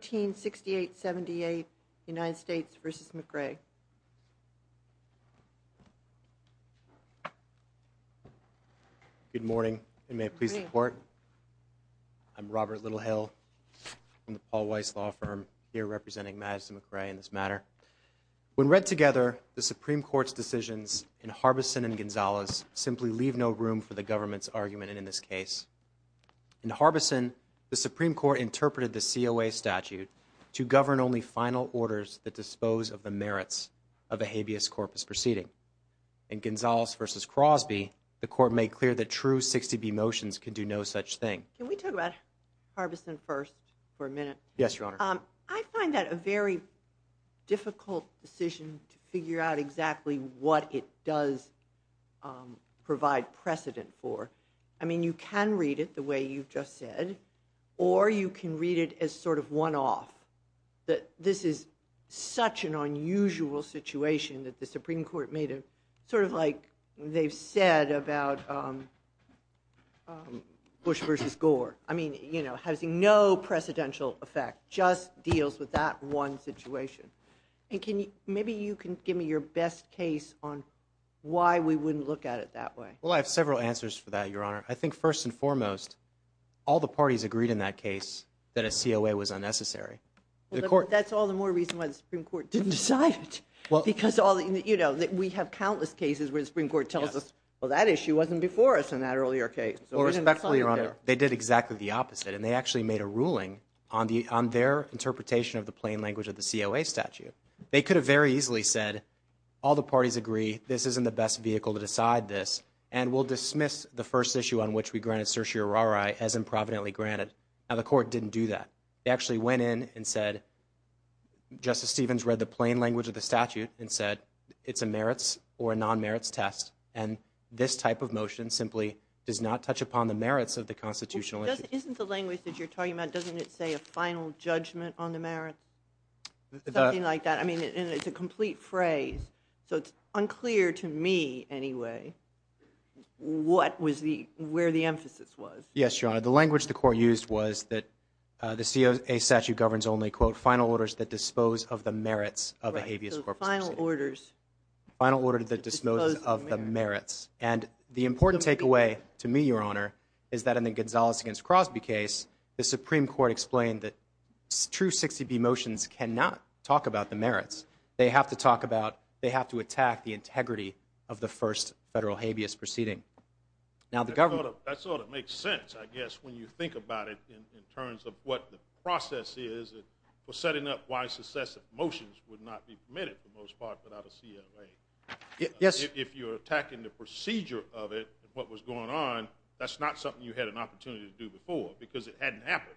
1368-78 United States v. McRae Good morning and may it please the court. I'm Robert Littlehill from the Paul Weiss Law Firm here representing Madison McRae in this matter. When read together, the Supreme Court's decisions in Harbison and Gonzalez simply leave no room for the government's argument in this case. In Harbison, the Supreme Court interpreted the COA statute to govern only final orders that dispose of the merits of a habeas corpus proceeding. In Gonzalez v. Crosby, the court made clear that true 60B motions could do no such thing. Can we talk about Harbison first for a minute? Yes your honor. I find that a very difficult decision to figure out exactly what it does provide precedent for. I mean you can read it the way you've just said or you can read it as sort of one-off. That this is such an unusual situation that the Supreme Court made it sort of like they've said about Bush v. Gore. I mean you know has no precedential effect, just deals with that one situation. And can you, maybe you can give me your best case on why we wouldn't look at it that way. Well I have several answers for that your honor. I think first and foremost all the parties agreed in that case that a COA was unnecessary. That's all the more reason why the Supreme Court didn't decide it. Well because all you know that we have countless cases where the Supreme Court tells us well that issue wasn't before us in that earlier case. Respectfully your honor, they did exactly the opposite and they actually made a ruling on their interpretation of the plain language of the COA statute. They could have very easily said all the parties agree this isn't the best vehicle to decide this and we'll dismiss the first issue on which we granted certiorari as improvidently granted. Now the court didn't do that. They actually went in and said Justice Stevens read the plain language of the statute and said it's a merits or non-merits test and this type of motion simply does not touch upon the merits of the constitutional issue. Isn't the language that you're talking about doesn't it say a final judgment on the merits? Something like that. I mean it's a What was the where the emphasis was? Yes your honor the language the court used was that the COA statute governs only quote final orders that dispose of the merits of a habeas corpus final orders final order that dispose of the merits and the important takeaway to me your honor is that in the Gonzalez against Crosby case the Supreme Court explained that true 60b motions cannot talk about the merits. They have to talk about they have to attack the integrity of the first federal habeas proceeding. Now the government that sort of makes sense I guess when you think about it in terms of what the process is for setting up why successive motions would not be permitted for most part without a COA. Yes if you're attacking the procedure of it what was going on that's not something you had an opportunity to do before because it hadn't happened.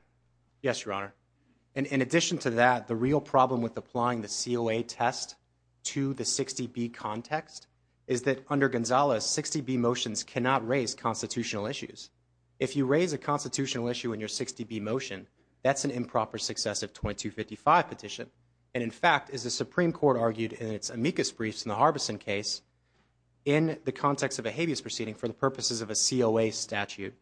Yes your honor and in addition to that the real problem with is that under Gonzalez 60b motions cannot raise constitutional issues. If you raise a constitutional issue in your 60b motion that's an improper successive 2255 petition and in fact as the Supreme Court argued in its amicus briefs in the Harbison case in the context of a habeas proceeding for the purposes of a COA statute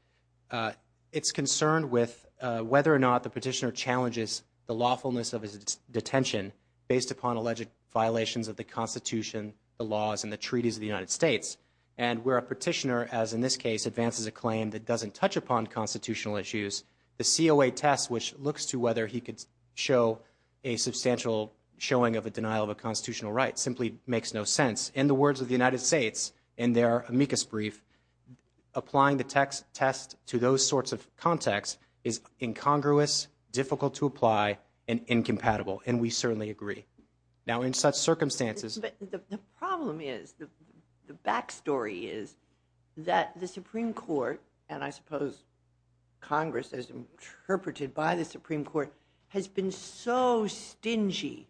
it's concerned with whether or not the petitioner challenges the lawfulness of his detention based upon alleged violations of the constitution the laws and the treaties of the United States and where a petitioner as in this case advances a claim that doesn't touch upon constitutional issues the COA test which looks to whether he could show a substantial showing of a denial of a constitutional right simply makes no sense. In the words of the United States in their amicus brief applying the text test to those sorts of contexts is incongruous difficult to apply and incompatible and we certainly agree. Now in such circumstances the problem is the the back story is that the Supreme Court and I suppose Congress as interpreted by the Supreme Court has been so stingy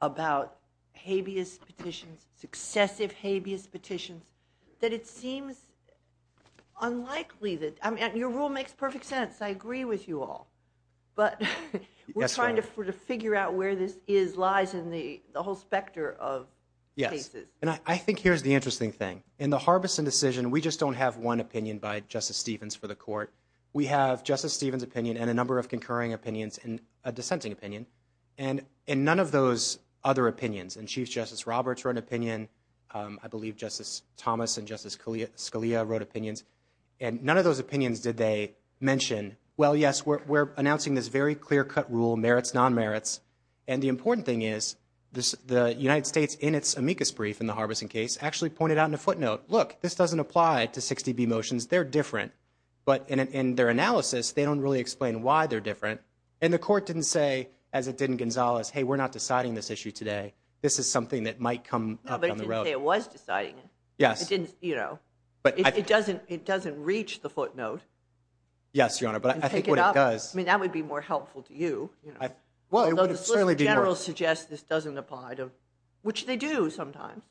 about habeas petitions successive habeas petitions that it seems unlikely that I mean your rule makes perfect sense I agree with you all but we're trying to figure out where this is lies in the the whole specter of cases. And I think here's the interesting thing in the Harbison decision we just don't have one opinion by Justice Stevens for the court we have Justice Stevens opinion and a number of concurring opinions and a dissenting opinion and and none of those other opinions and Chief Justice Roberts wrote an opinion I believe Justice Thomas and Justice Scalia wrote opinions and none of those opinions did they mention well yes we're announcing this very clear-cut rule merits non-merits and the important thing is this the United States in its amicus brief in the Harbison case actually pointed out in a footnote look this doesn't apply to 60b motions they're different but in their analysis they don't really explain why they're different and the court didn't say as it did in Gonzalez hey we're not deciding this issue today this is something that might come up on the road it was deciding yes it didn't you know but it doesn't it doesn't reach the footnote yes your honor but I think what it does I mean that would be more helpful to you you know well the solicitor general suggests this doesn't apply to which they do sometimes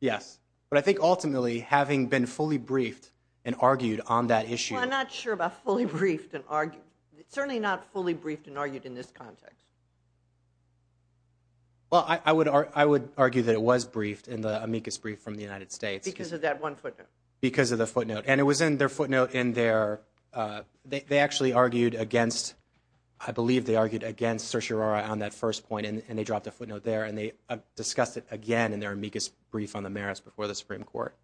yes but I think ultimately having been fully briefed and argued on that issue I'm not sure about fully briefed and argued certainly not fully briefed and argued in this context well I would argue that it was briefed in the amicus brief from the United States because of that one footnote because of the footnote and it was in their footnote in their they actually argued against I believe they argued against certiorari on that first point and they dropped a footnote there and they discussed it again in their amicus brief on the merits before the supreme court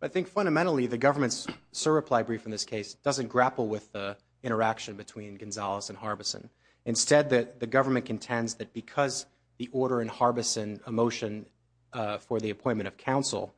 I think fundamentally the government's sir reply brief in this case doesn't grapple with the interaction between Gonzalez and Harbison instead that the government contends that because the order in Harbison a motion for the appointment of counsel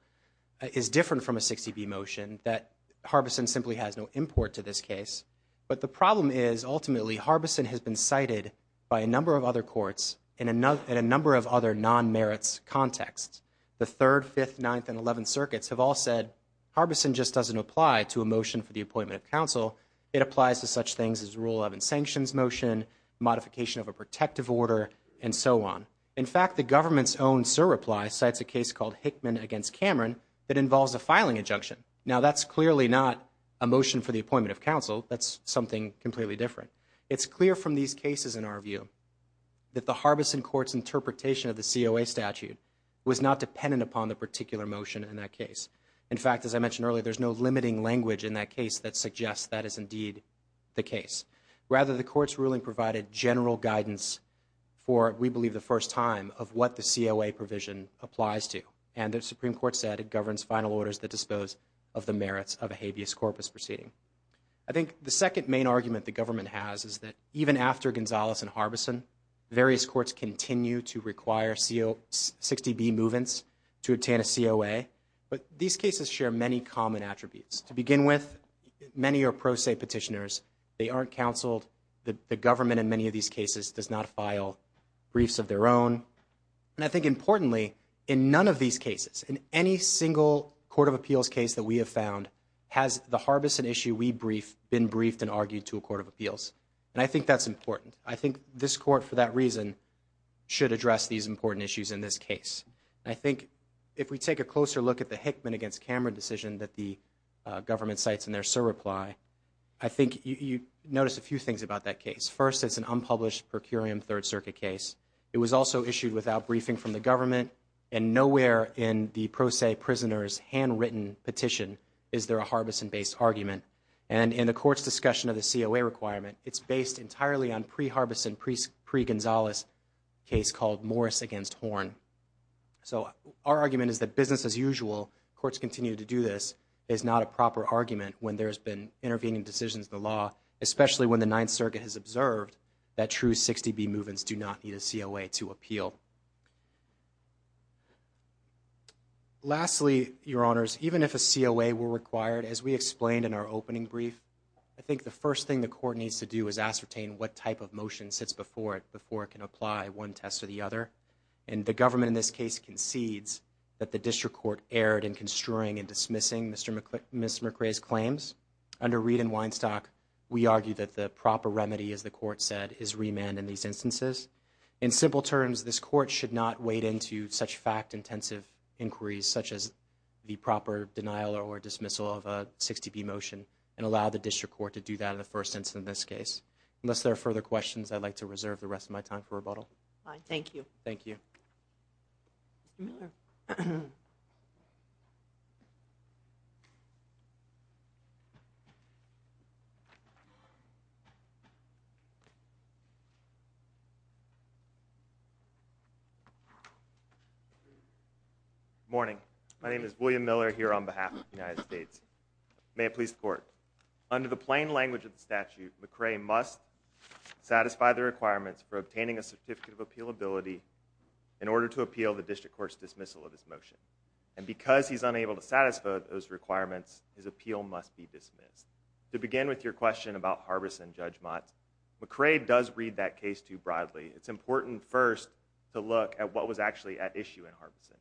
is different from a 60b motion that Harbison simply has no import to this case but the problem is ultimately Harbison has been cited by a number of other courts in another in a number of other non-merits contexts the 3rd 5th 9th and 11th circuits have all said Harbison just doesn't apply to a motion for the appointment of counsel it applies to such things as rule 11 sanctions motion modification of a protective order and so on in fact the government's own sir reply cites a case called Hickman against Cameron that involves a filing injunction now that's clearly not a motion for the appointment of counsel that's something completely different it's clear from these cases in our view that the Harbison court's interpretation of the COA statute was not dependent upon the particular motion in that case in fact as I mentioned earlier there's no limiting language in that case that suggests that is indeed the case rather the court's ruling provided general guidance for we believe the first time of what the COA provision applies to and the supreme court said it governs final orders that dispose of the merits of a habeas corpus proceeding I think the second main argument the government has is that even after Gonzalez and Harbison various courts continue to require co 60b movements to attain a COA but these cases share many common attributes to begin with many are pro se petitioners they aren't counseled the government in many of these cases does not file briefs of their own and I think importantly in none of these cases in any single court of appeals case that we have found has the Harbison issue we briefed been briefed and argued to a court of appeals and I think that's important I think this court for that reason should address these important issues in this case I think if we take a closer look at the Hickman against Cameron decision that the government cites in their sir reply I think you notice a few things about that case first it's an unpublished per curiam third circuit case it was also issued without briefing from the government and nowhere in the pro se prisoners handwritten petition is there a Harbison based argument and in the court's discussion of the COA requirement it's based entirely on pre Harbison priest pre Gonzalez case called Morris against horn so our argument is that business as usual courts continue to do this is not a proper argument when there's been intervening decisions the law especially when the ninth circuit has observed that true 60b movements do not need a COA to appeal lastly your honors even if a COA were required as we explained in our opening brief I think the first thing the court needs to do is ascertain what type of motion sits before it before it can apply one test or the other and the government in this case concedes that the district court erred in construing and dismissing Mr. McClick Miss McRae's claims under Reed and Weinstock we argue that the proper remedy as the court said is remand in these instances in simple terms this court should not wade into such fact-intensive inquiries such as the proper denial or dismissal of a 60b motion and allow the district court to do that in the first instance in this case unless there are further questions I'd like to reserve the rest of my time for rebuttal all right thank you thank you you morning my name is William Miller here on behalf of the United States may it please the court under the plain language of the statute McRae must satisfy the requirements for obtaining a certificate of appealability in order to appeal the district court's dismissal of this motion and because he's unable to satisfy those requirements his appeal must be dismissed to begin with your question about Harbison Judge Mott McRae does read that case too broadly it's important first to look at what was actually at issue in Harbison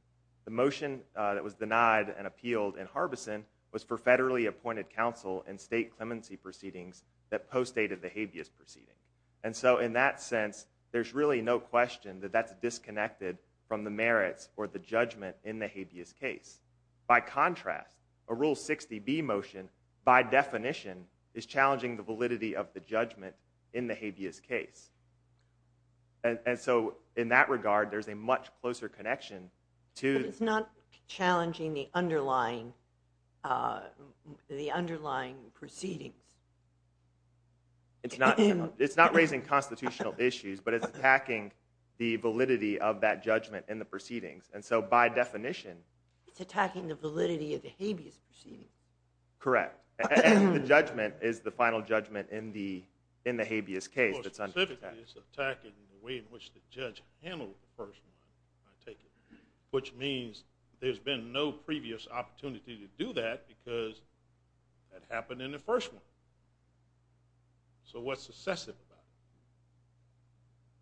the motion that was denied and appealed in Harbison was for federally appointed counsel and state clemency proceedings that postdated the habeas proceeding and so in that sense there's really no question that that's disconnected from the merits or the judgment in the habeas case by contrast a rule 60b motion by definition is challenging the validity of the judgment in the habeas case and so in that regard there's a much closer connection to it's not challenging the underlying uh the underlying proceedings it's not it's not raising constitutional issues but it's attacking the validity of that judgment in the proceedings and so by definition it's attacking the validity of the judgment is the final judgment in the in the habeas case that's under attack it's attacking the way in which the judge handled the first one i take it which means there's been no previous opportunity to do that because that happened in the first one so what's successive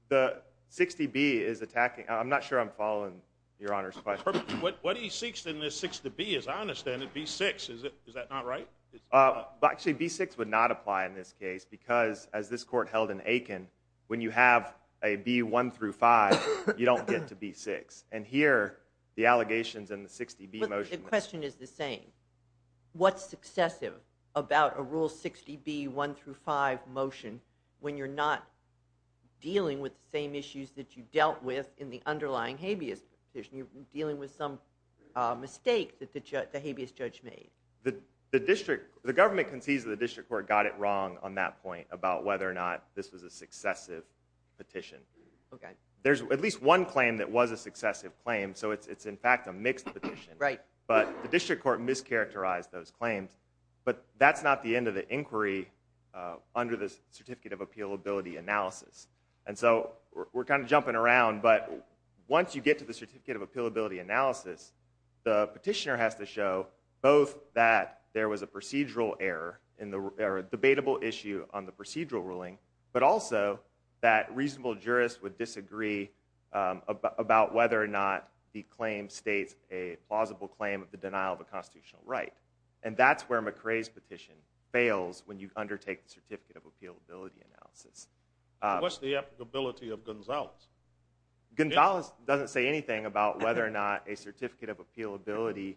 about it the 60b is attacking i'm not sure i'm following your honor's question what what he seeks in this 60b as i understand it b6 is that not right uh actually b6 would not apply in this case because as this court held in aiken when you have a b1 through 5 you don't get to b6 and here the allegations in the 60b motion the question is the same what's successive about a rule 60b one through five motion when you're not dealing with the same issues that you dealt with in the underlying habeas position you're the the district the government concedes the district court got it wrong on that point about whether or not this was a successive petition okay there's at least one claim that was a successive claim so it's in fact a mixed petition right but the district court mischaracterized those claims but that's not the end of the inquiry under this certificate of appealability analysis and so we're kind of jumping around but once you get to the certificate of appealability analysis the petitioner has to show both that there was a procedural error in the debatable issue on the procedural ruling but also that reasonable jurists would disagree about whether or not the claim states a plausible claim of the denial of a constitutional right and that's where mccray's petition fails when you undertake the certificate of appealability analysis what's the applicability of gonzalez gonzalez doesn't say anything about whether or not a certificate of appealability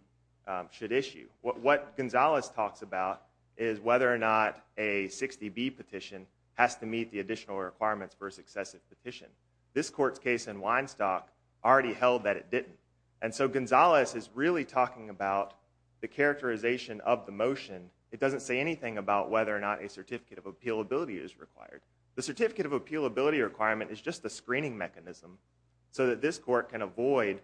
should issue what gonzalez talks about is whether or not a 60b petition has to meet the additional requirements for a successive petition this court's case in weinstock already held that it didn't and so gonzalez is really talking about the characterization of the motion it doesn't say anything about whether or not a certificate of appealability is required the certificate of appealability requirement is just a screening mechanism so that this court can avoid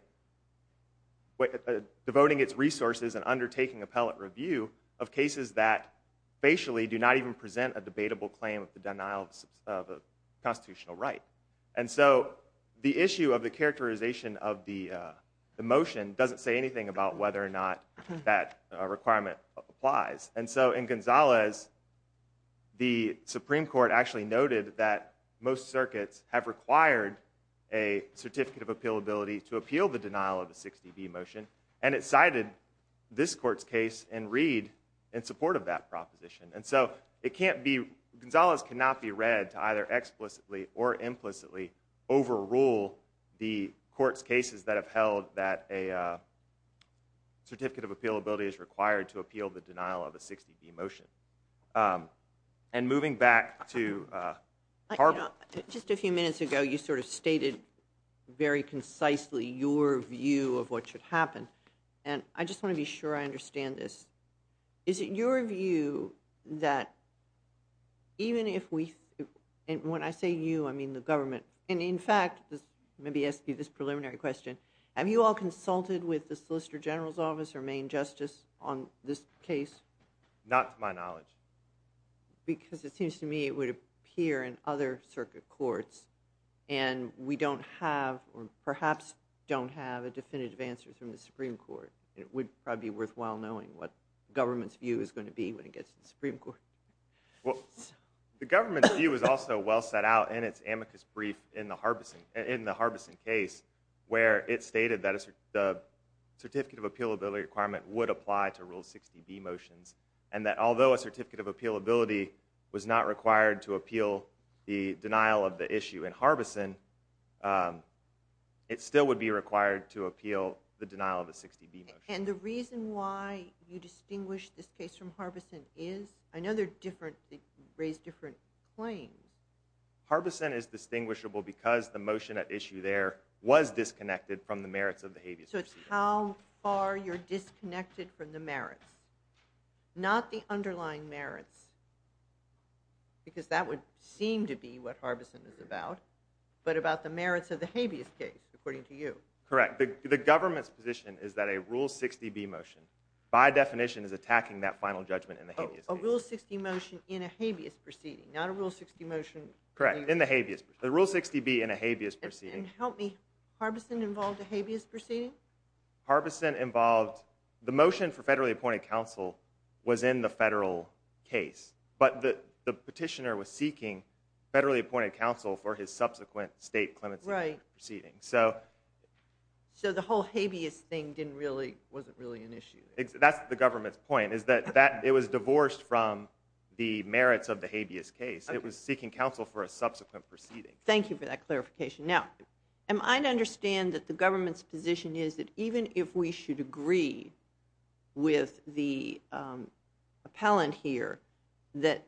what devoting its resources and undertaking appellate review of cases that facially do not even present a debatable claim of the denial of a constitutional right and so the issue of the characterization of the the motion doesn't say anything about whether or not that requirement applies and so in gonzalez the supreme court actually noted that a 60b motion and it cited this court's case and read in support of that proposition and so it can't be gonzalez cannot be read to either explicitly or implicitly overrule the court's cases that have held that a certificate of appealability is required to appeal the denial of a 60b motion and moving back to uh just a few minutes ago you sort of stated very concisely your view of what should happen and i just want to be sure i understand this is it your view that even if we and when i say you i mean the government and in fact this maybe ask you this preliminary question have you all consulted with the solicitor general's office or main justice on this case not to my knowledge because it seems to me it would appear in other circuit courts and we don't have or perhaps don't have a definitive answer from the supreme court it would probably be worthwhile knowing what government's view is going to be when it gets to the supreme court well the government's view is also well set out in its amicus brief in the harbison in the harbison case where it stated that the certificate of appealability requirement would apply to rule 60b motions and that although a certificate of issue in harbison it still would be required to appeal the denial of a 60b and the reason why you distinguish this case from harbison is i know they're different they raise different claims harbison is distinguishable because the motion at issue there was disconnected from the merits of the habeas so it's how far you're disconnected from the merits not the underlying merits because that would seem to be what harbison is about but about the merits of the habeas case according to you correct the government's position is that a rule 60b motion by definition is attacking that final judgment in the habeas a rule 60 motion in a habeas proceeding not a rule 60 motion correct in the habeas the rule 60b in a habeas proceeding help me harbison involved a habeas proceeding harbison involved the motion for federally appointed counsel was in the federal case but the the petitioner was seeking federally appointed counsel for his subsequent state clemency proceeding so so the whole habeas thing didn't really wasn't really an issue that's the government's point is that that it was divorced from the merits of the habeas case it was seeking counsel for a subsequent proceeding thank you for that clarification now am i to understand that the government's position is that even if we should agree with the um appellant here that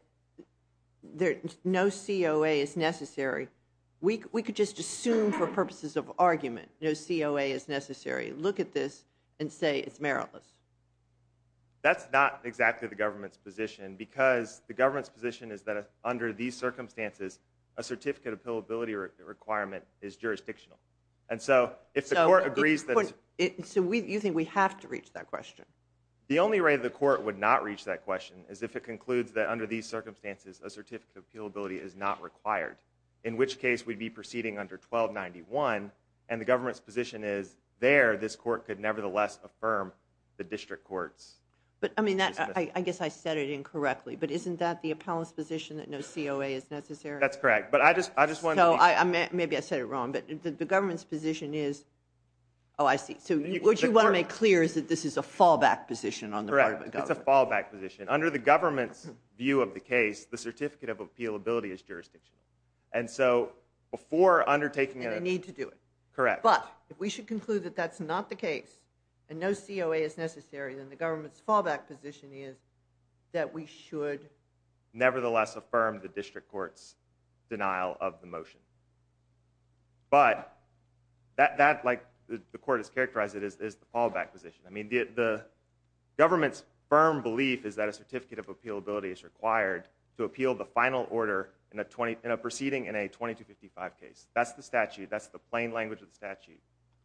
there no coa is necessary we we could just assume for purposes of argument no coa is necessary look at this and say it's meritless that's not exactly the government's position because the government's position is that under these circumstances a certificate of pill ability requirement is jurisdictional and so if the court agrees that so we you think we have to reach that question the only way the court would not reach that question is if it concludes that under these circumstances a certificate of appeal ability is not required in which case we'd be proceeding under 1291 and the government's position is there this court could nevertheless affirm the district courts but i mean that i guess i said it incorrectly but isn't that the appellant's position that no coa is necessary that's correct but i just i just want to know i i mean maybe i said it wrong but the government's position is oh i see so what you want to make clear is that this is a fallback position on the right it's a fallback position under the government's view of the case the certificate of appeal ability is jurisdictional and so before undertaking a need to do it correct but if we should conclude that that's not the case and no coa is necessary then the government's fallback position is that we should nevertheless affirm the that that like the court has characterized it is the fallback position i mean the government's firm belief is that a certificate of appeal ability is required to appeal the final order in a 20 in a proceeding in a 2255 case that's the statute that's the plain language of the statute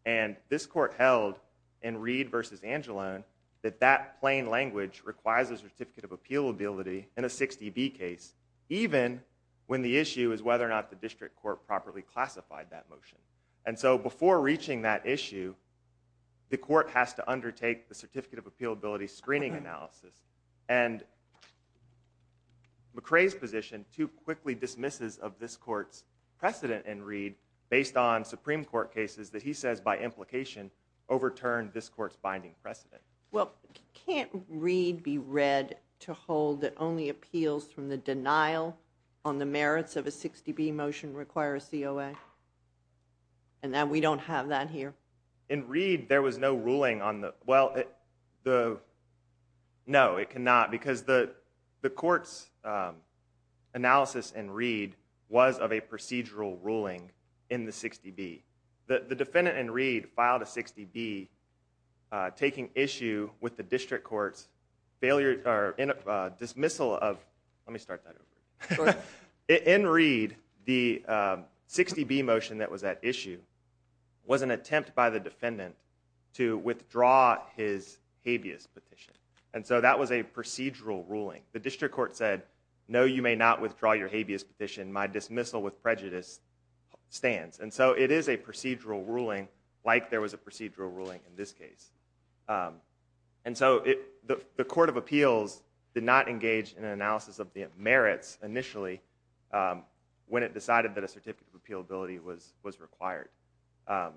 and this court held in reed versus angelone that that plain language requires a certificate of appeal ability in a 60b case even when the issue is whether or not the district court properly classified that motion and so before reaching that issue the court has to undertake the certificate of appeal ability screening analysis and mccray's position too quickly dismisses of this court's precedent in reed based on supreme court cases that he says by implication overturned this court's binding precedent well can't reed be read to hold that only appeals from the denial on the merits of a 60b motion require a coa and now we don't have that here in reed there was no ruling on the well the no it cannot because the the court's analysis and reed was of a procedural ruling in the 60b the defendant and reed filed a 60b taking issue with the district court's failure dismissal of let me start that over in reed the 60b motion that was at issue was an attempt by the defendant to withdraw his habeas petition and so that was a procedural ruling the district court said no you may not withdraw your habeas petition my dismissal with prejudice stands and so it is a procedural ruling like there was a procedural ruling in this case um and so it the the court of appeals did not engage in an analysis of the merits initially um when it decided that a certificate of appealability was was required um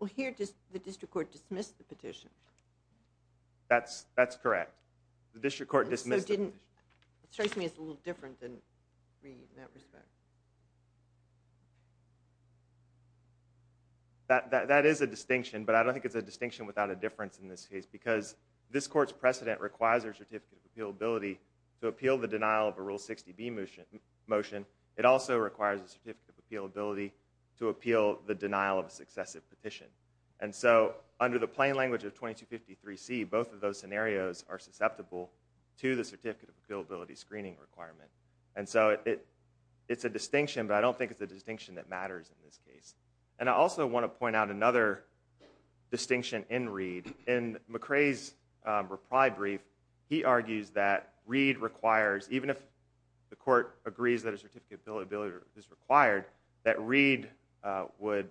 well here does the district court dismiss the petition that's that's correct the district court dismissed it didn't it strikes me it's a little different than reed in that respect that that that is a distinction but i don't think it's a distinction without a difference in this case because this court's precedent requires their certificate of appealability to appeal the denial of a rule 60b motion it also requires a certificate of appealability to appeal the denial of a successive petition and so under the plain language of 2253c both of those scenarios are susceptible to the certificate of appealability screening requirement and so it it's a distinction but i don't think it's a distinction that matters in this case and i also want to point out another distinction in reed in mccray's reply brief he argues that reed requires even if the court agrees that a certificate bill ability is required that reed would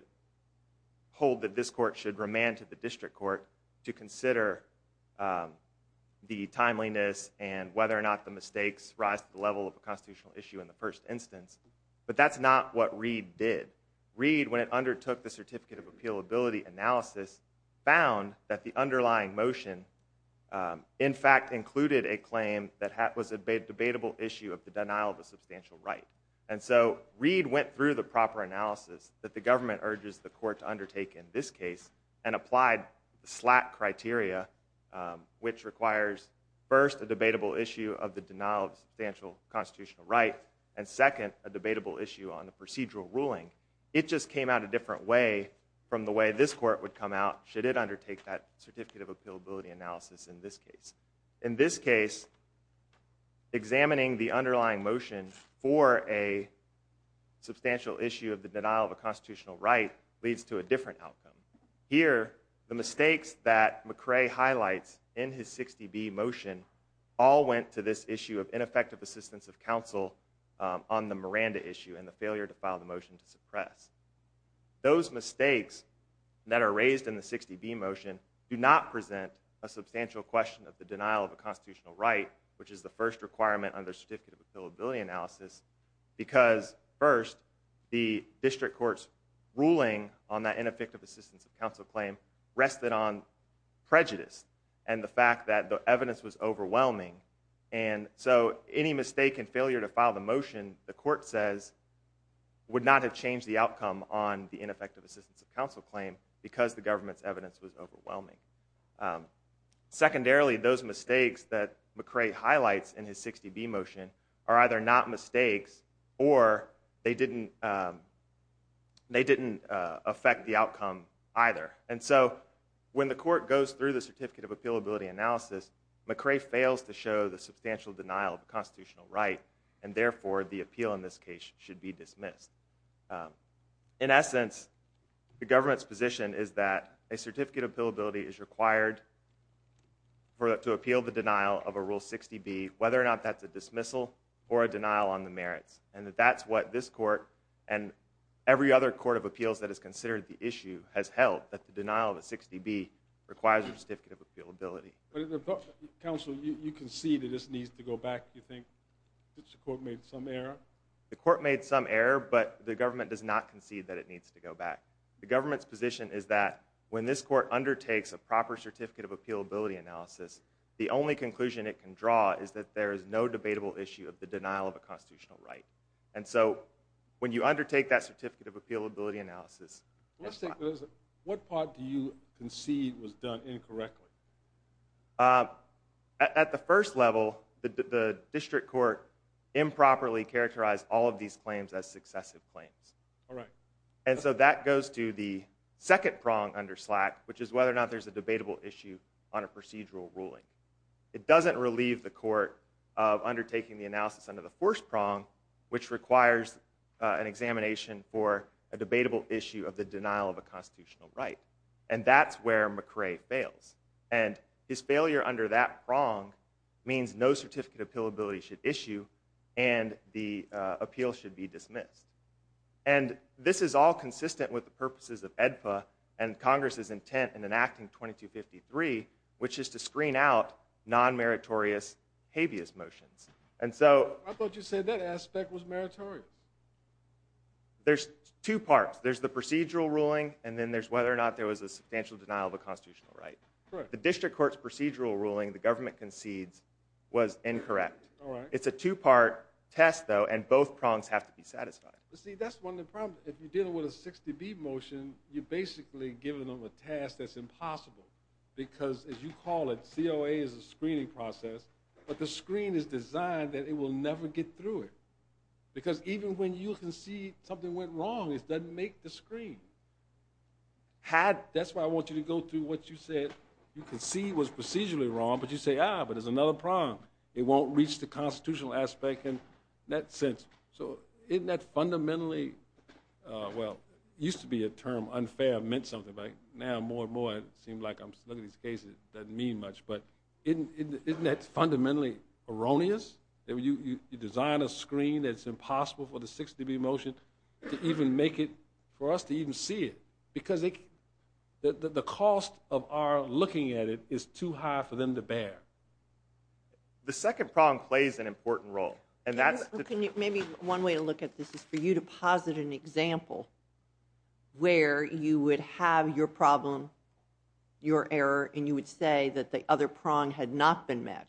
hold that this court should remand to the district court to consider the timeliness and whether or not the mistakes rise to the level of a constitutional issue in the first instance but that's not what reed did reed when it undertook the certificate of analysis found that the underlying motion in fact included a claim that was a debatable issue of the denial of a substantial right and so reed went through the proper analysis that the government urges the court to undertake in this case and applied the slat criteria which requires first a debatable issue of the denial of substantial constitutional right and second a debatable issue on the procedural ruling it just came out a different way from the way this court would come out should it undertake that certificate of appealability analysis in this case in this case examining the underlying motion for a substantial issue of the denial of a constitutional right leads to a different outcome here the mistakes that mccray highlights in his 60b motion all went to this issue of ineffective assistance of counsel on the miranda issue and the failure to file the motion to suppress those mistakes that are raised in the 60b motion do not present a substantial question of the denial of a constitutional right which is the first requirement under certificate of appealability analysis because first the district court's ruling on that ineffective assistance of counsel claim rested on prejudice and the fact that the evidence was overwhelming and so any mistake and failure to file the motion the court says would not have changed the outcome on the ineffective assistance of counsel claim because the government's evidence was overwhelming secondarily those mistakes that mccray highlights in his 60b motion are either not mistakes or they didn't they didn't affect the outcome either and so when the court goes through the certificate of appealability analysis mccray fails to show the substantial denial of a constitutional right and therefore the appeal in this case should be dismissed in essence the government's position is that a certificate of appealability is required for to appeal the denial of a rule 60b whether or not that's a dismissal or a denial on the merits and that that's what this court and every other court of appeals that is considered the issue has held that the denial of a 60b requires a certificate of appealability counsel you concede it just needs to go back you think that the court made some error the court made some error but the government does not concede that it needs to go back the government's position is that when this court undertakes a proper certificate of appealability analysis the only conclusion it can draw is that there is no debatable issue of the denial of a constitutional right and so when you undertake that certificate of appealability analysis let's take this what part do you concede was done incorrectly at the first level the the district court improperly characterized all of these claims as successive claims all right and so that goes to the second prong under slack which is whether or not there's a debatable issue on a procedural ruling it doesn't relieve the court of undertaking the analysis under the fourth prong which requires an examination for a denial of a constitutional right and that's where mccray fails and his failure under that prong means no certificate of appealability should issue and the appeal should be dismissed and this is all consistent with the purposes of edpa and congress's intent in enacting 2253 which is to screen out non-meritorious habeas motions and so i thought you said that aspect was non-meritorious there's two parts there's the procedural ruling and then there's whether or not there was a substantial denial of a constitutional right the district court's procedural ruling the government concedes was incorrect all right it's a two-part test though and both prongs have to be satisfied you see that's one of the problems if you're dealing with a 60b motion you're basically giving them a task that's impossible because as you call it coa is a screening process but the screen is designed that it will never get through it because even when you can see something went wrong it doesn't make the screen had that's why i want you to go through what you said you can see was procedurally wrong but you say ah but there's another prong it won't reach the constitutional aspect in that sense so isn't that fundamentally uh well used to be a term unfair meant something like now more and more it seemed like i'm fundamentally erroneous that you you design a screen that's impossible for the 60b motion to even make it for us to even see it because it the the cost of our looking at it is too high for them to bear the second prong plays an important role and that's can you maybe one way to look at this is for you to posit an example where you would have your problem your error and you would say that the other prong had not been met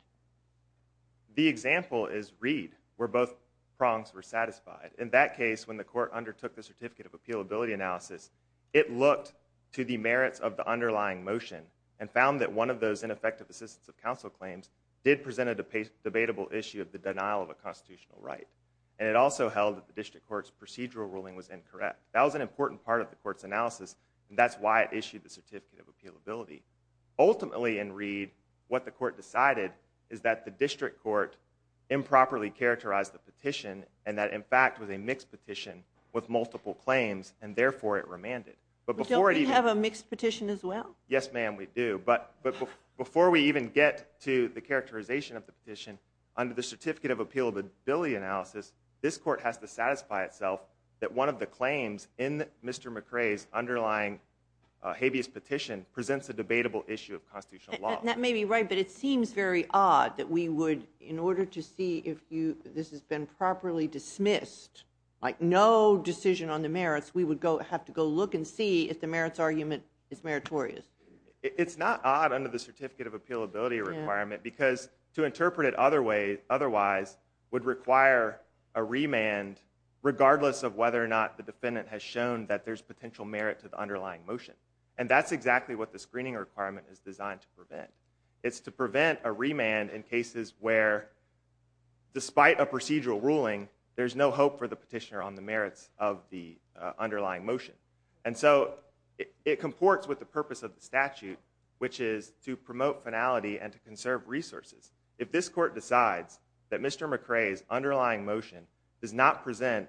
the example is reed where both prongs were satisfied in that case when the court undertook the certificate of appealability analysis it looked to the merits of the underlying motion and found that one of those ineffective assistance of counsel claims did present a debatable issue of the denial of a constitutional right and it also held that the district court's procedural ruling was incorrect that was an important part of the court's analysis and that's why it issued the certificate of appealability ultimately in reed what the court decided is that the district court improperly characterized the petition and that in fact was a mixed petition with multiple claims and therefore it remanded but before you have a mixed petition as well yes ma'am we do but but before we even get to the characterization of the petition under the certificate of appealability analysis this court has to satisfy itself that one of the claims in mr mcrae's underlying habeas petition presents a debatable issue of constitutional law that may be right but it seems very odd that we would in order to see if you this has been properly dismissed like no decision on the merits we would go have to go look and see if the merits argument is meritorious it's not odd under the certificate of appealability requirement because to interpret it other way otherwise would require a remand regardless of whether or not the defendant has shown that there's potential merit to the underlying motion and that's exactly what the screening requirement is designed to prevent it's to prevent a remand in cases where despite a procedural ruling there's no hope for the petitioner on the merits of the underlying motion and so it comports with the purpose of the statute which is to promote finality and to conserve resources if this court decides that mr mcrae's motion does not present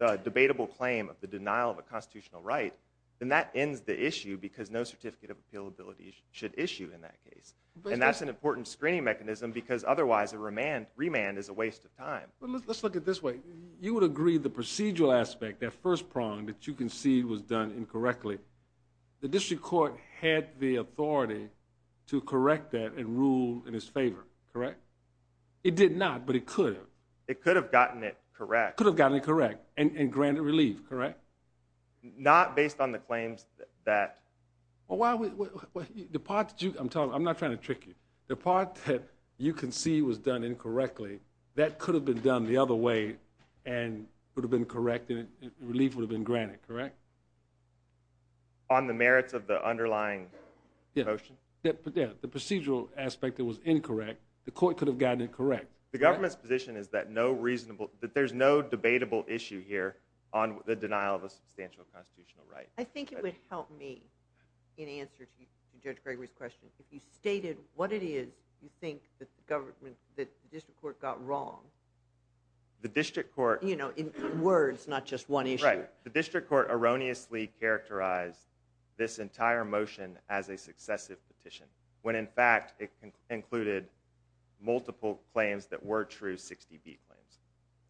a debatable claim of the denial of a constitutional right then that ends the issue because no certificate of appealability should issue in that case and that's an important screening mechanism because otherwise a remand remand is a waste of time let's look at this way you would agree the procedural aspect that first prong that you concede was done incorrectly the district court had the authority to correct that and rule in his favor correct it did not but it could it could have gotten it correct could have gotten it correct and granted relief correct not based on the claims that well why would the part that you i'm telling i'm not trying to trick you the part that you can see was done incorrectly that could have been done the other way and would have been correct and relief would have been granted correct on the merits of the underlying motion but yeah the procedural aspect that was incorrect the court could have gotten it correct the government's position is that no reasonable that there's no debatable issue here on the denial of a substantial constitutional right i think it would help me in answer to judge gregory's question if you stated what it is you think that the government that the district court got wrong the district court you know in words not just one issue the district court erroneously characterized this entire motion as a successive petition when in fact it included multiple claims that were true 60b claims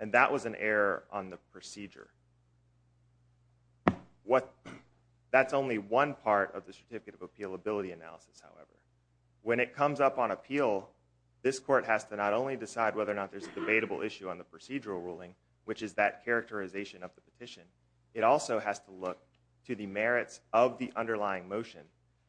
and that was an error on the procedure what that's only one part of the certificate of appealability analysis however when it comes up on appeal this court has to not only decide whether or not there's a debatable issue on the procedural ruling which is that characterization of the petition it also has to look to the merits of the underlying motion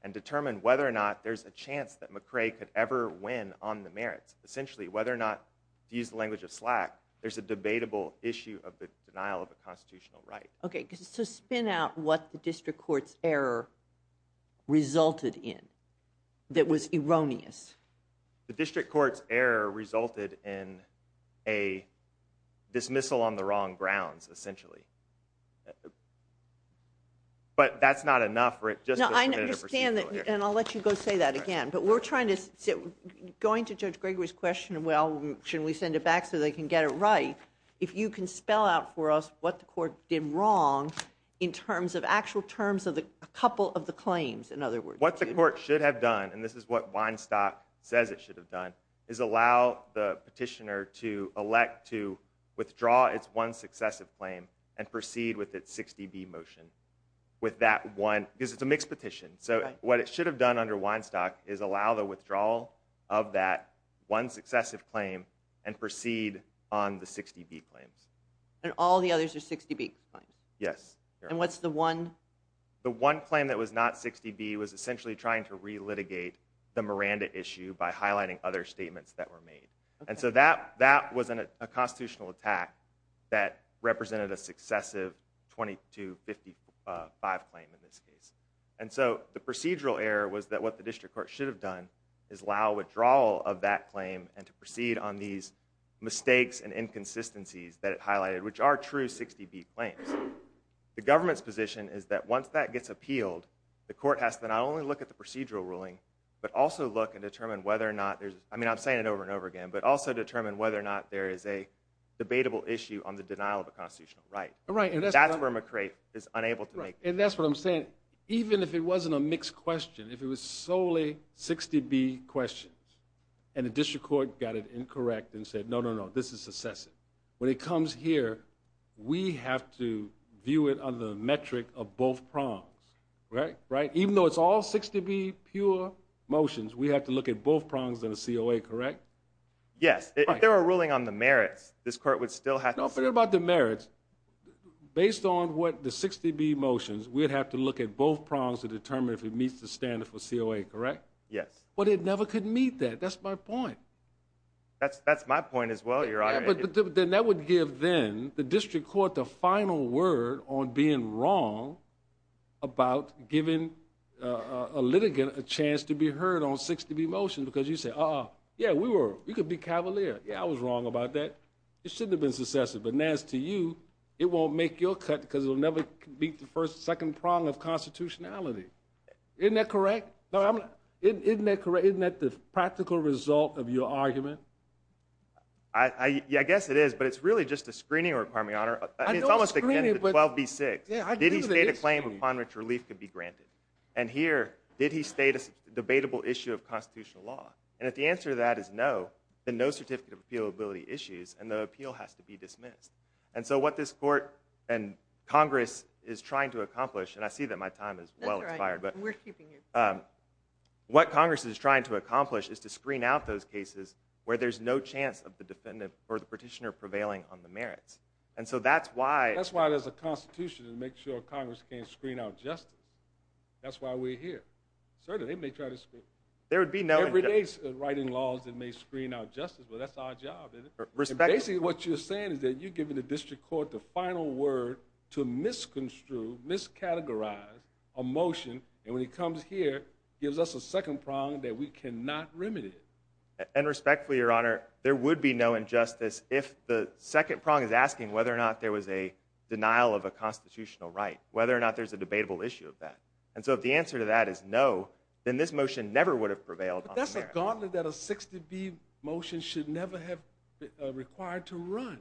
and determine whether or not there's a chance that mccray could ever win on the merits essentially whether or not to use the language of slack there's a debatable issue of the denial of a constitutional right okay so spin out what the district court's error resulted in that was erroneous the district court's error resulted in a dismissal on the wrong grounds essentially but that's not enough for it just i understand that and i'll let you go say that again but we're trying to sit going to judge gregory's question well should we send it back so they can get it right if you can spell out for us what the court did wrong in terms of actual terms of the a couple of the claims in other words what the court should have done and this is what weinstock says it should have done is allow the petitioner to withdraw its one successive claim and proceed with its 60b motion with that one because it's a mixed petition so what it should have done under weinstock is allow the withdrawal of that one successive claim and proceed on the 60b claims and all the others are 60b yes and what's the one the one claim that was not 60b was essentially trying to re-litigate the miranda issue by highlighting other statements that were made and so that that was an a constitutional attack that represented a successive 22 55 claim in this case and so the procedural error was that what the district court should have done is allow withdrawal of that claim and to proceed on these mistakes and inconsistencies that it highlighted which are true 60b claims the government's position is that once that gets appealed the court has to not only look at the procedural ruling but also look and determine whether or i mean i'm saying it over and over again but also determine whether or not there is a debatable issue on the denial of a constitutional right right and that's where mccrae is unable to make and that's what i'm saying even if it wasn't a mixed question if it was solely 60b questions and the district court got it incorrect and said no no no this is successive when it comes here we have to view it on the metric of both prongs right right even though it's all 60b pure motions we have to look at both prongs than a coa correct yes if there are ruling on the merits this court would still have no fear about the merits based on what the 60b motions we would have to look at both prongs to determine if it meets the standard for coa correct yes but it never could meet that that's my point that's that's my point as well your honor then that would give then the district court the final word on being wrong about giving a litigant a chance to be heard on 60b motions because you say oh yeah we were we could be cavalier yeah i was wrong about that it shouldn't have been successive but now as to you it won't make your cut because it'll never beat the first second prong of constitutionality isn't that correct no i'm isn't that correct isn't that the practical result of your argument i i i guess it is but it's really just a screening requirement honor i mean it's almost the 12b6 yeah did he state a claim upon which relief could be granted and here did he state a debatable issue of constitutional law and if the answer to that is no then no certificate of appealability issues and the appeal has to be dismissed and so what this court and congress is trying to accomplish and i see that my time is well inspired but we're keeping you um what congress is trying to accomplish is to screen out those cases where there's no chance of the defendant or the petitioner prevailing on the merits and so that's why that's why there's a constitution to make sure congress can't justice that's why we're here certainly they may try to screw there would be no everyday writing laws that may screen out justice but that's our job basically what you're saying is that you're giving the district court the final word to misconstrue miscategorize a motion and when he comes here gives us a second prong that we cannot remedy and respectfully your honor there would be no injustice if the second prong is asking whether or not there was a debatable issue of that and so if the answer to that is no then this motion never would have prevailed that's a gauntlet that a 60b motion should never have required to run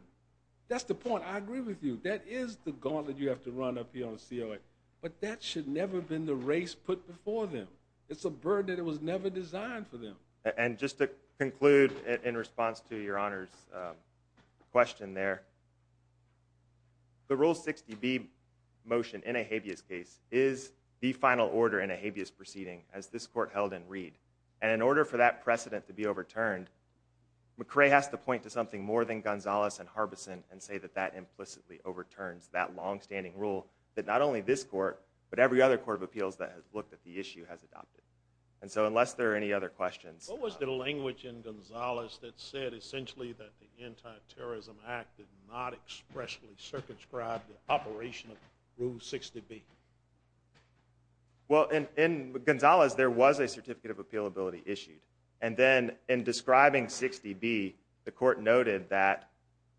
that's the point i agree with you that is the gauntlet you have to run up here on coa but that should never have been the race put before them it's a bird that it was never designed for them and just to conclude in response to your honor's question there the rule 60b motion in a habeas case is the final order in a habeas proceeding as this court held in reed and in order for that precedent to be overturned mccray has to point to something more than gonzalez and harbison and say that that implicitly overturns that long-standing rule that not only this court but every other court of appeals that has looked at the issue has adopted and so unless there are any other questions what was the language in the anti-terrorism act did not expressly circumscribe the operation of rule 60b well in in gonzalez there was a certificate of appeal ability issued and then in describing 60b the court noted that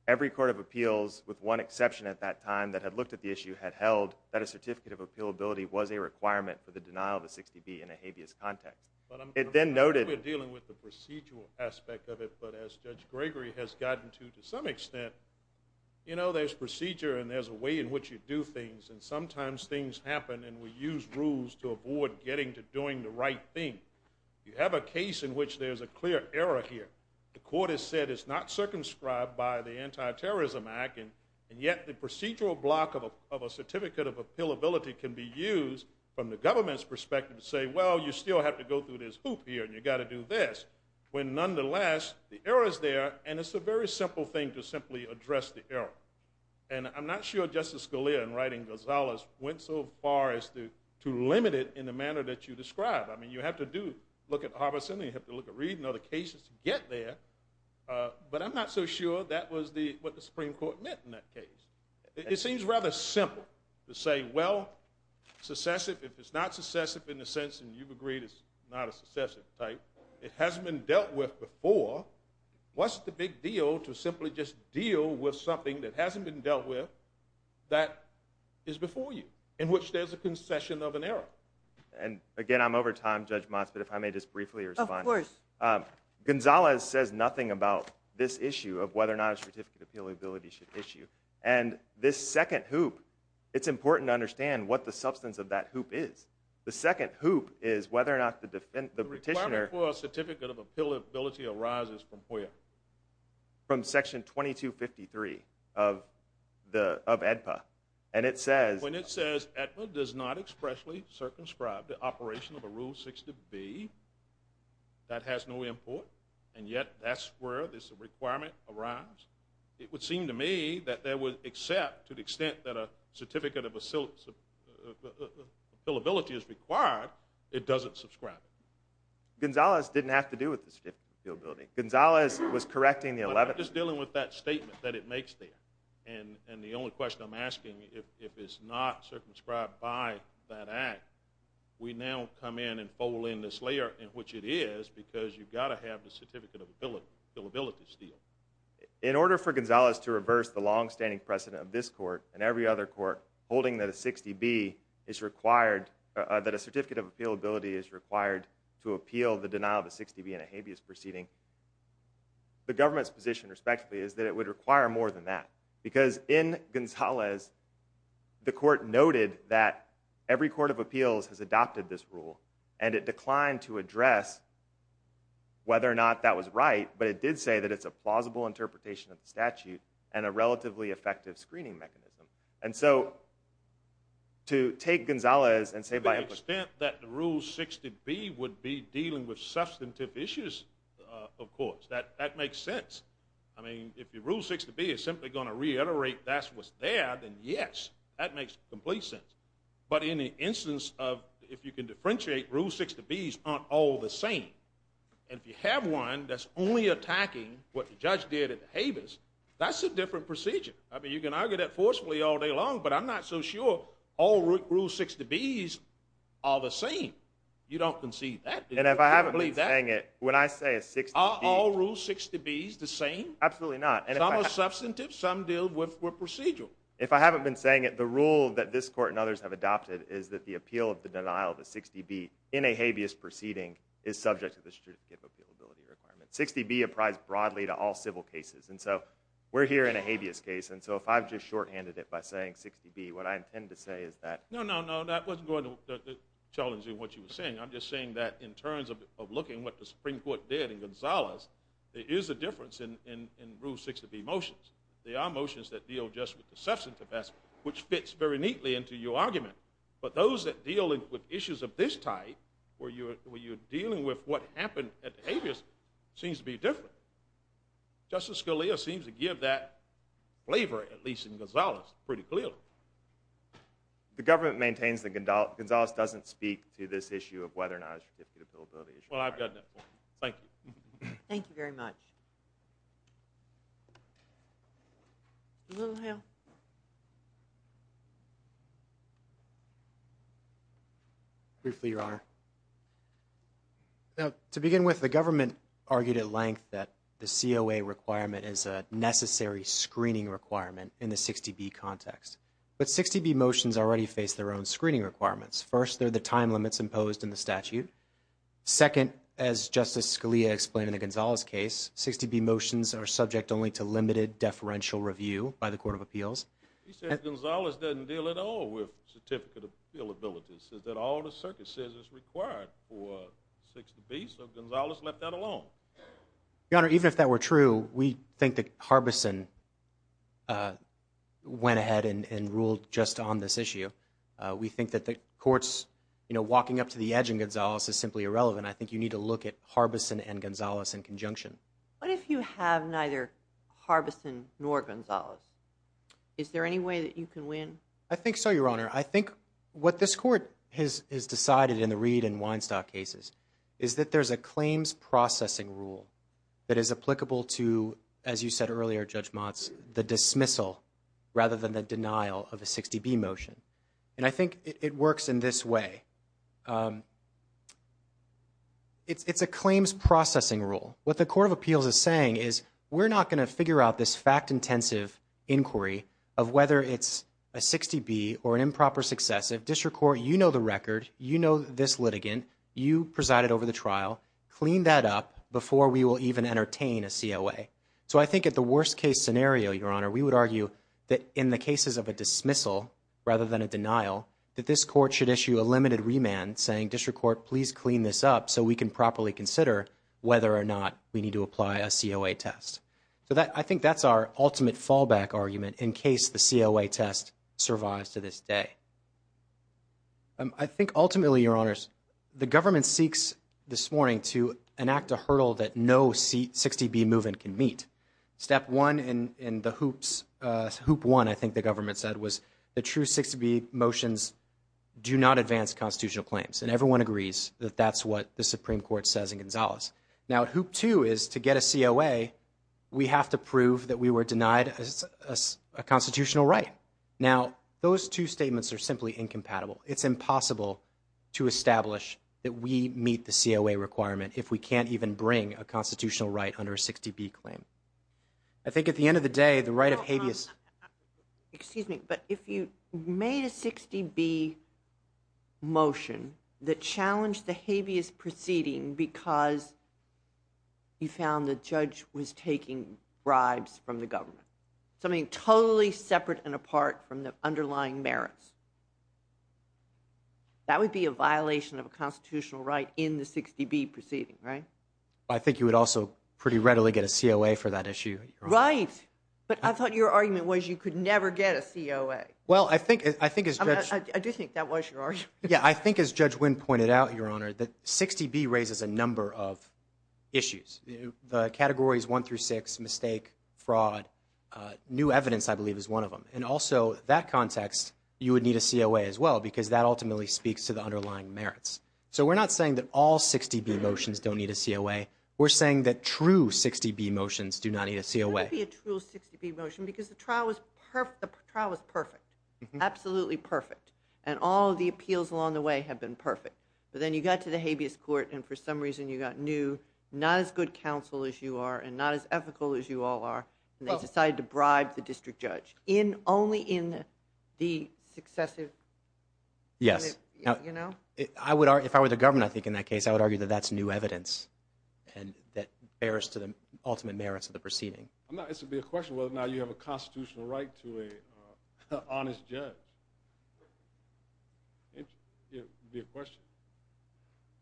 every court of appeals with one exception at that time that had looked at the issue had held that a certificate of appeal ability was a requirement for the denial of a 60b in a habeas context but it then noted we're dealing with the to some extent you know there's procedure and there's a way in which you do things and sometimes things happen and we use rules to avoid getting to doing the right thing you have a case in which there's a clear error here the court has said it's not circumscribed by the anti-terrorism act and and yet the procedural block of a certificate of appeal ability can be used from the government's perspective to say well you still have to go through this hoop here and you got to do this when nonetheless the error is there and it's a very simple thing to simply address the error and i'm not sure justice Scalia in writing gonzalez went so far as to to limit it in the manner that you describe i mean you have to do look at harvison you have to look at reading other cases to get there but i'm not so sure that was the what the supreme court meant in that case it seems rather simple to say well successive if it's not successive in the sense and you've agreed it's not a successive type it hasn't been dealt with before what's the big deal to simply just deal with something that hasn't been dealt with that is before you in which there's a concession of an error and again i'm over time judge mons but if i may just briefly respond of course um gonzalez says nothing about this issue of whether or not a certificate of appeal ability should issue and this second hoop it's important to understand what the substance of that hoop is the second hoop is whether or not the defense the petitioner for a certificate of appeal ability arises from where from section 2253 of the of edpa and it says when it says edpa does not expressly circumscribe the operation of a rule 60b that has no import and yet that's where this requirement arrives it would seem to me that there would except to the extent that a required it doesn't subscribe it gonzalez didn't have to do with the certificate field building gonzalez was correcting the 11th just dealing with that statement that it makes there and and the only question i'm asking if if it's not circumscribed by that act we now come in and fold in this layer in which it is because you've got to have the certificate of ability the ability to steal in order for gonzalez to reverse the long-standing precedent of this court and every other court holding that a 60b is required that a certificate of appeal ability is required to appeal the denial of a 60b and a habeas proceeding the government's position respectively is that it would require more than that because in gonzalez the court noted that every court of appeals has adopted this rule and it declined to address whether or not that was right but it did say that it's a plausible interpretation of the statute and a relatively effective screening mechanism and so to take gonzalez and say by extent that the rule 60b would be dealing with substantive issues uh of course that that makes sense i mean if your rule 60b is simply going to reiterate that's what's there then yes that makes complete sense but in the instance of if you can differentiate rule 60b's aren't all the same and if you have one that's only attacking what the judge did at the forcefully all day long but i'm not so sure all rule 60b's are the same you don't concede that and if i haven't been saying it when i say a six all rule 60b's the same absolutely not and some are substantive some deal with procedural if i haven't been saying it the rule that this court and others have adopted is that the appeal of the denial of a 60b in a habeas proceeding is subject to the strict capability requirement 60b apprised broadly to all civil cases and so we're here in a habeas case and so if i've just shorthanded it by saying 60b what i intend to say is that no no no that wasn't going to challenging what you were saying i'm just saying that in terms of of looking what the supreme court did in gonzalez there is a difference in in in rule 60b motions there are motions that deal just with the substantive best which fits very neatly into your argument but those that deal with issues of this type where you're when you're dealing with what happened at habeas seems to be different justice scalia seems to give that flavor at least in gonzalez pretty clearly the government maintains that gonzalez doesn't speak to this issue of whether or not it's a capability issue well i've gotten that point thank you thank you very much a little help briefly your honor now to begin with the government argued at length that the coa requirement is a necessary screening requirement in the 60b context but 60b motions already face their own screening requirements first they're the time limits imposed in the statute second as justice scalia explained in the gonzalez case 60b motions are subject only to limited deferential review by the court of appeals he says gonzalez doesn't deal at all with certificate of bill abilities says that all the circuit says is required for 60b so gonzalez left that alone your honor even if that were true we think that harbison uh went ahead and ruled just on this issue uh we think that the court's you know walking up to the edge and gonzalez is simply irrelevant i think you need to look at harbison and gonzalez in conjunction what if you have neither harbison nor gonzalez is there any way that you can win i think so your honor i think what this court has is decided in the reed and weinstock cases is that there's a claims processing rule that is applicable to as you said earlier judge motz the dismissal rather than the denial of a 60b motion and i think it works in this way um it's it's a claims processing rule what the court of appeals is saying is we're not going to figure out this fact intensive inquiry of whether it's a 60b or an improper successive district court you know the record you know this litigant you presided over the trial clean that up before we will even entertain a coa so i think at the worst case scenario your honor we would argue that in the cases of a dismissal rather than a denial that this court should issue a limited remand saying district court please clean this up so we can properly consider whether or not we need to apply a coa test so that i think that's our ultimate fallback argument in case the coa test survives to this day i think ultimately your honors the government seeks this morning to enact a hurdle that no c60b movement can meet step one in in the hoops uh one i think the government said was the true 60b motions do not advance constitutional claims and everyone agrees that that's what the supreme court says in gonzalez now hoop two is to get a coa we have to prove that we were denied a constitutional right now those two statements are simply incompatible it's impossible to establish that we meet the coa requirement if we can't even bring a constitutional right under a 60b claim i think at the end of the day the right of habeas excuse me but if you made a 60b motion that challenged the habeas proceeding because you found the judge was taking bribes from the government something totally separate and apart from the underlying merits that would be a violation of a constitutional right in the 60b proceeding right i think you would also pretty readily get a coa for that issue right but i thought your argument was you could never get a coa well i think i think i do think that was your argument yeah i think as judge winne pointed out your honor that 60b raises a number of issues the categories one through six mistake fraud uh new evidence i believe is one of them and also that context you would need a coa as well because that ultimately speaks to the underlying merits so we're not saying that all 60b motions don't need a coa we're saying that true 60b motions do not need a coa be a true 60b motion because the trial was perfect the trial was perfect absolutely perfect and all the appeals along the way have been perfect but then you got to the habeas court and for some reason you got new not as good counsel as you are and not as ethical as you all are and they decided to bribe the district judge in only in the successive yes you know i would argue if i were the government i think in that case i would argue that that's new evidence and that bears to the ultimate merits of the proceeding i'm not it's a big question whether or not you have a constitutional right to a honest judge it would be a question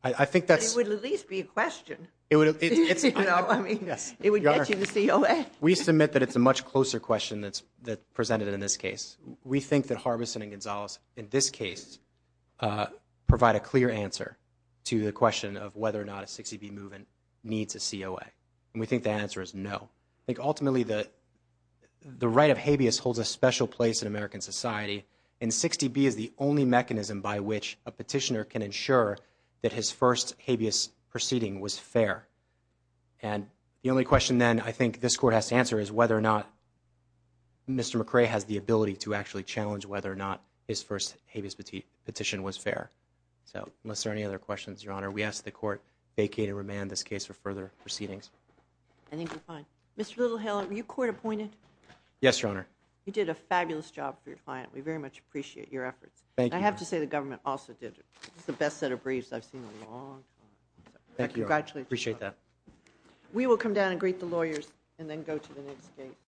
i think that would at least be a question it would it's you know i mean yes it would get you the coa we submit that it's a much closer question that's that presented in this case we think that harbison and gonzalez in this case uh provide a clear answer to the question of whether or not a 60b movement needs a coa and we think the answer is no i think ultimately the the right of habeas holds a special place in american society and 60b is the only mechanism by which a petitioner can ensure that his first habeas proceeding was fair and the only question then i think this court has to answer is whether or not mr mccray has the ability to actually challenge whether or not his first habeas petition was fair so unless there are any other questions your honor we ask the court vacate and remand this case for further proceedings i think you're fine mr little hill are you court appointed yes your honor you did a fabulous job for your client we very much appreciate your efforts thank you i have to say the government also did it it's the best set of briefs i've seen a long time thank you actually appreciate that we will come down and greet the lawyers and then go to the next gate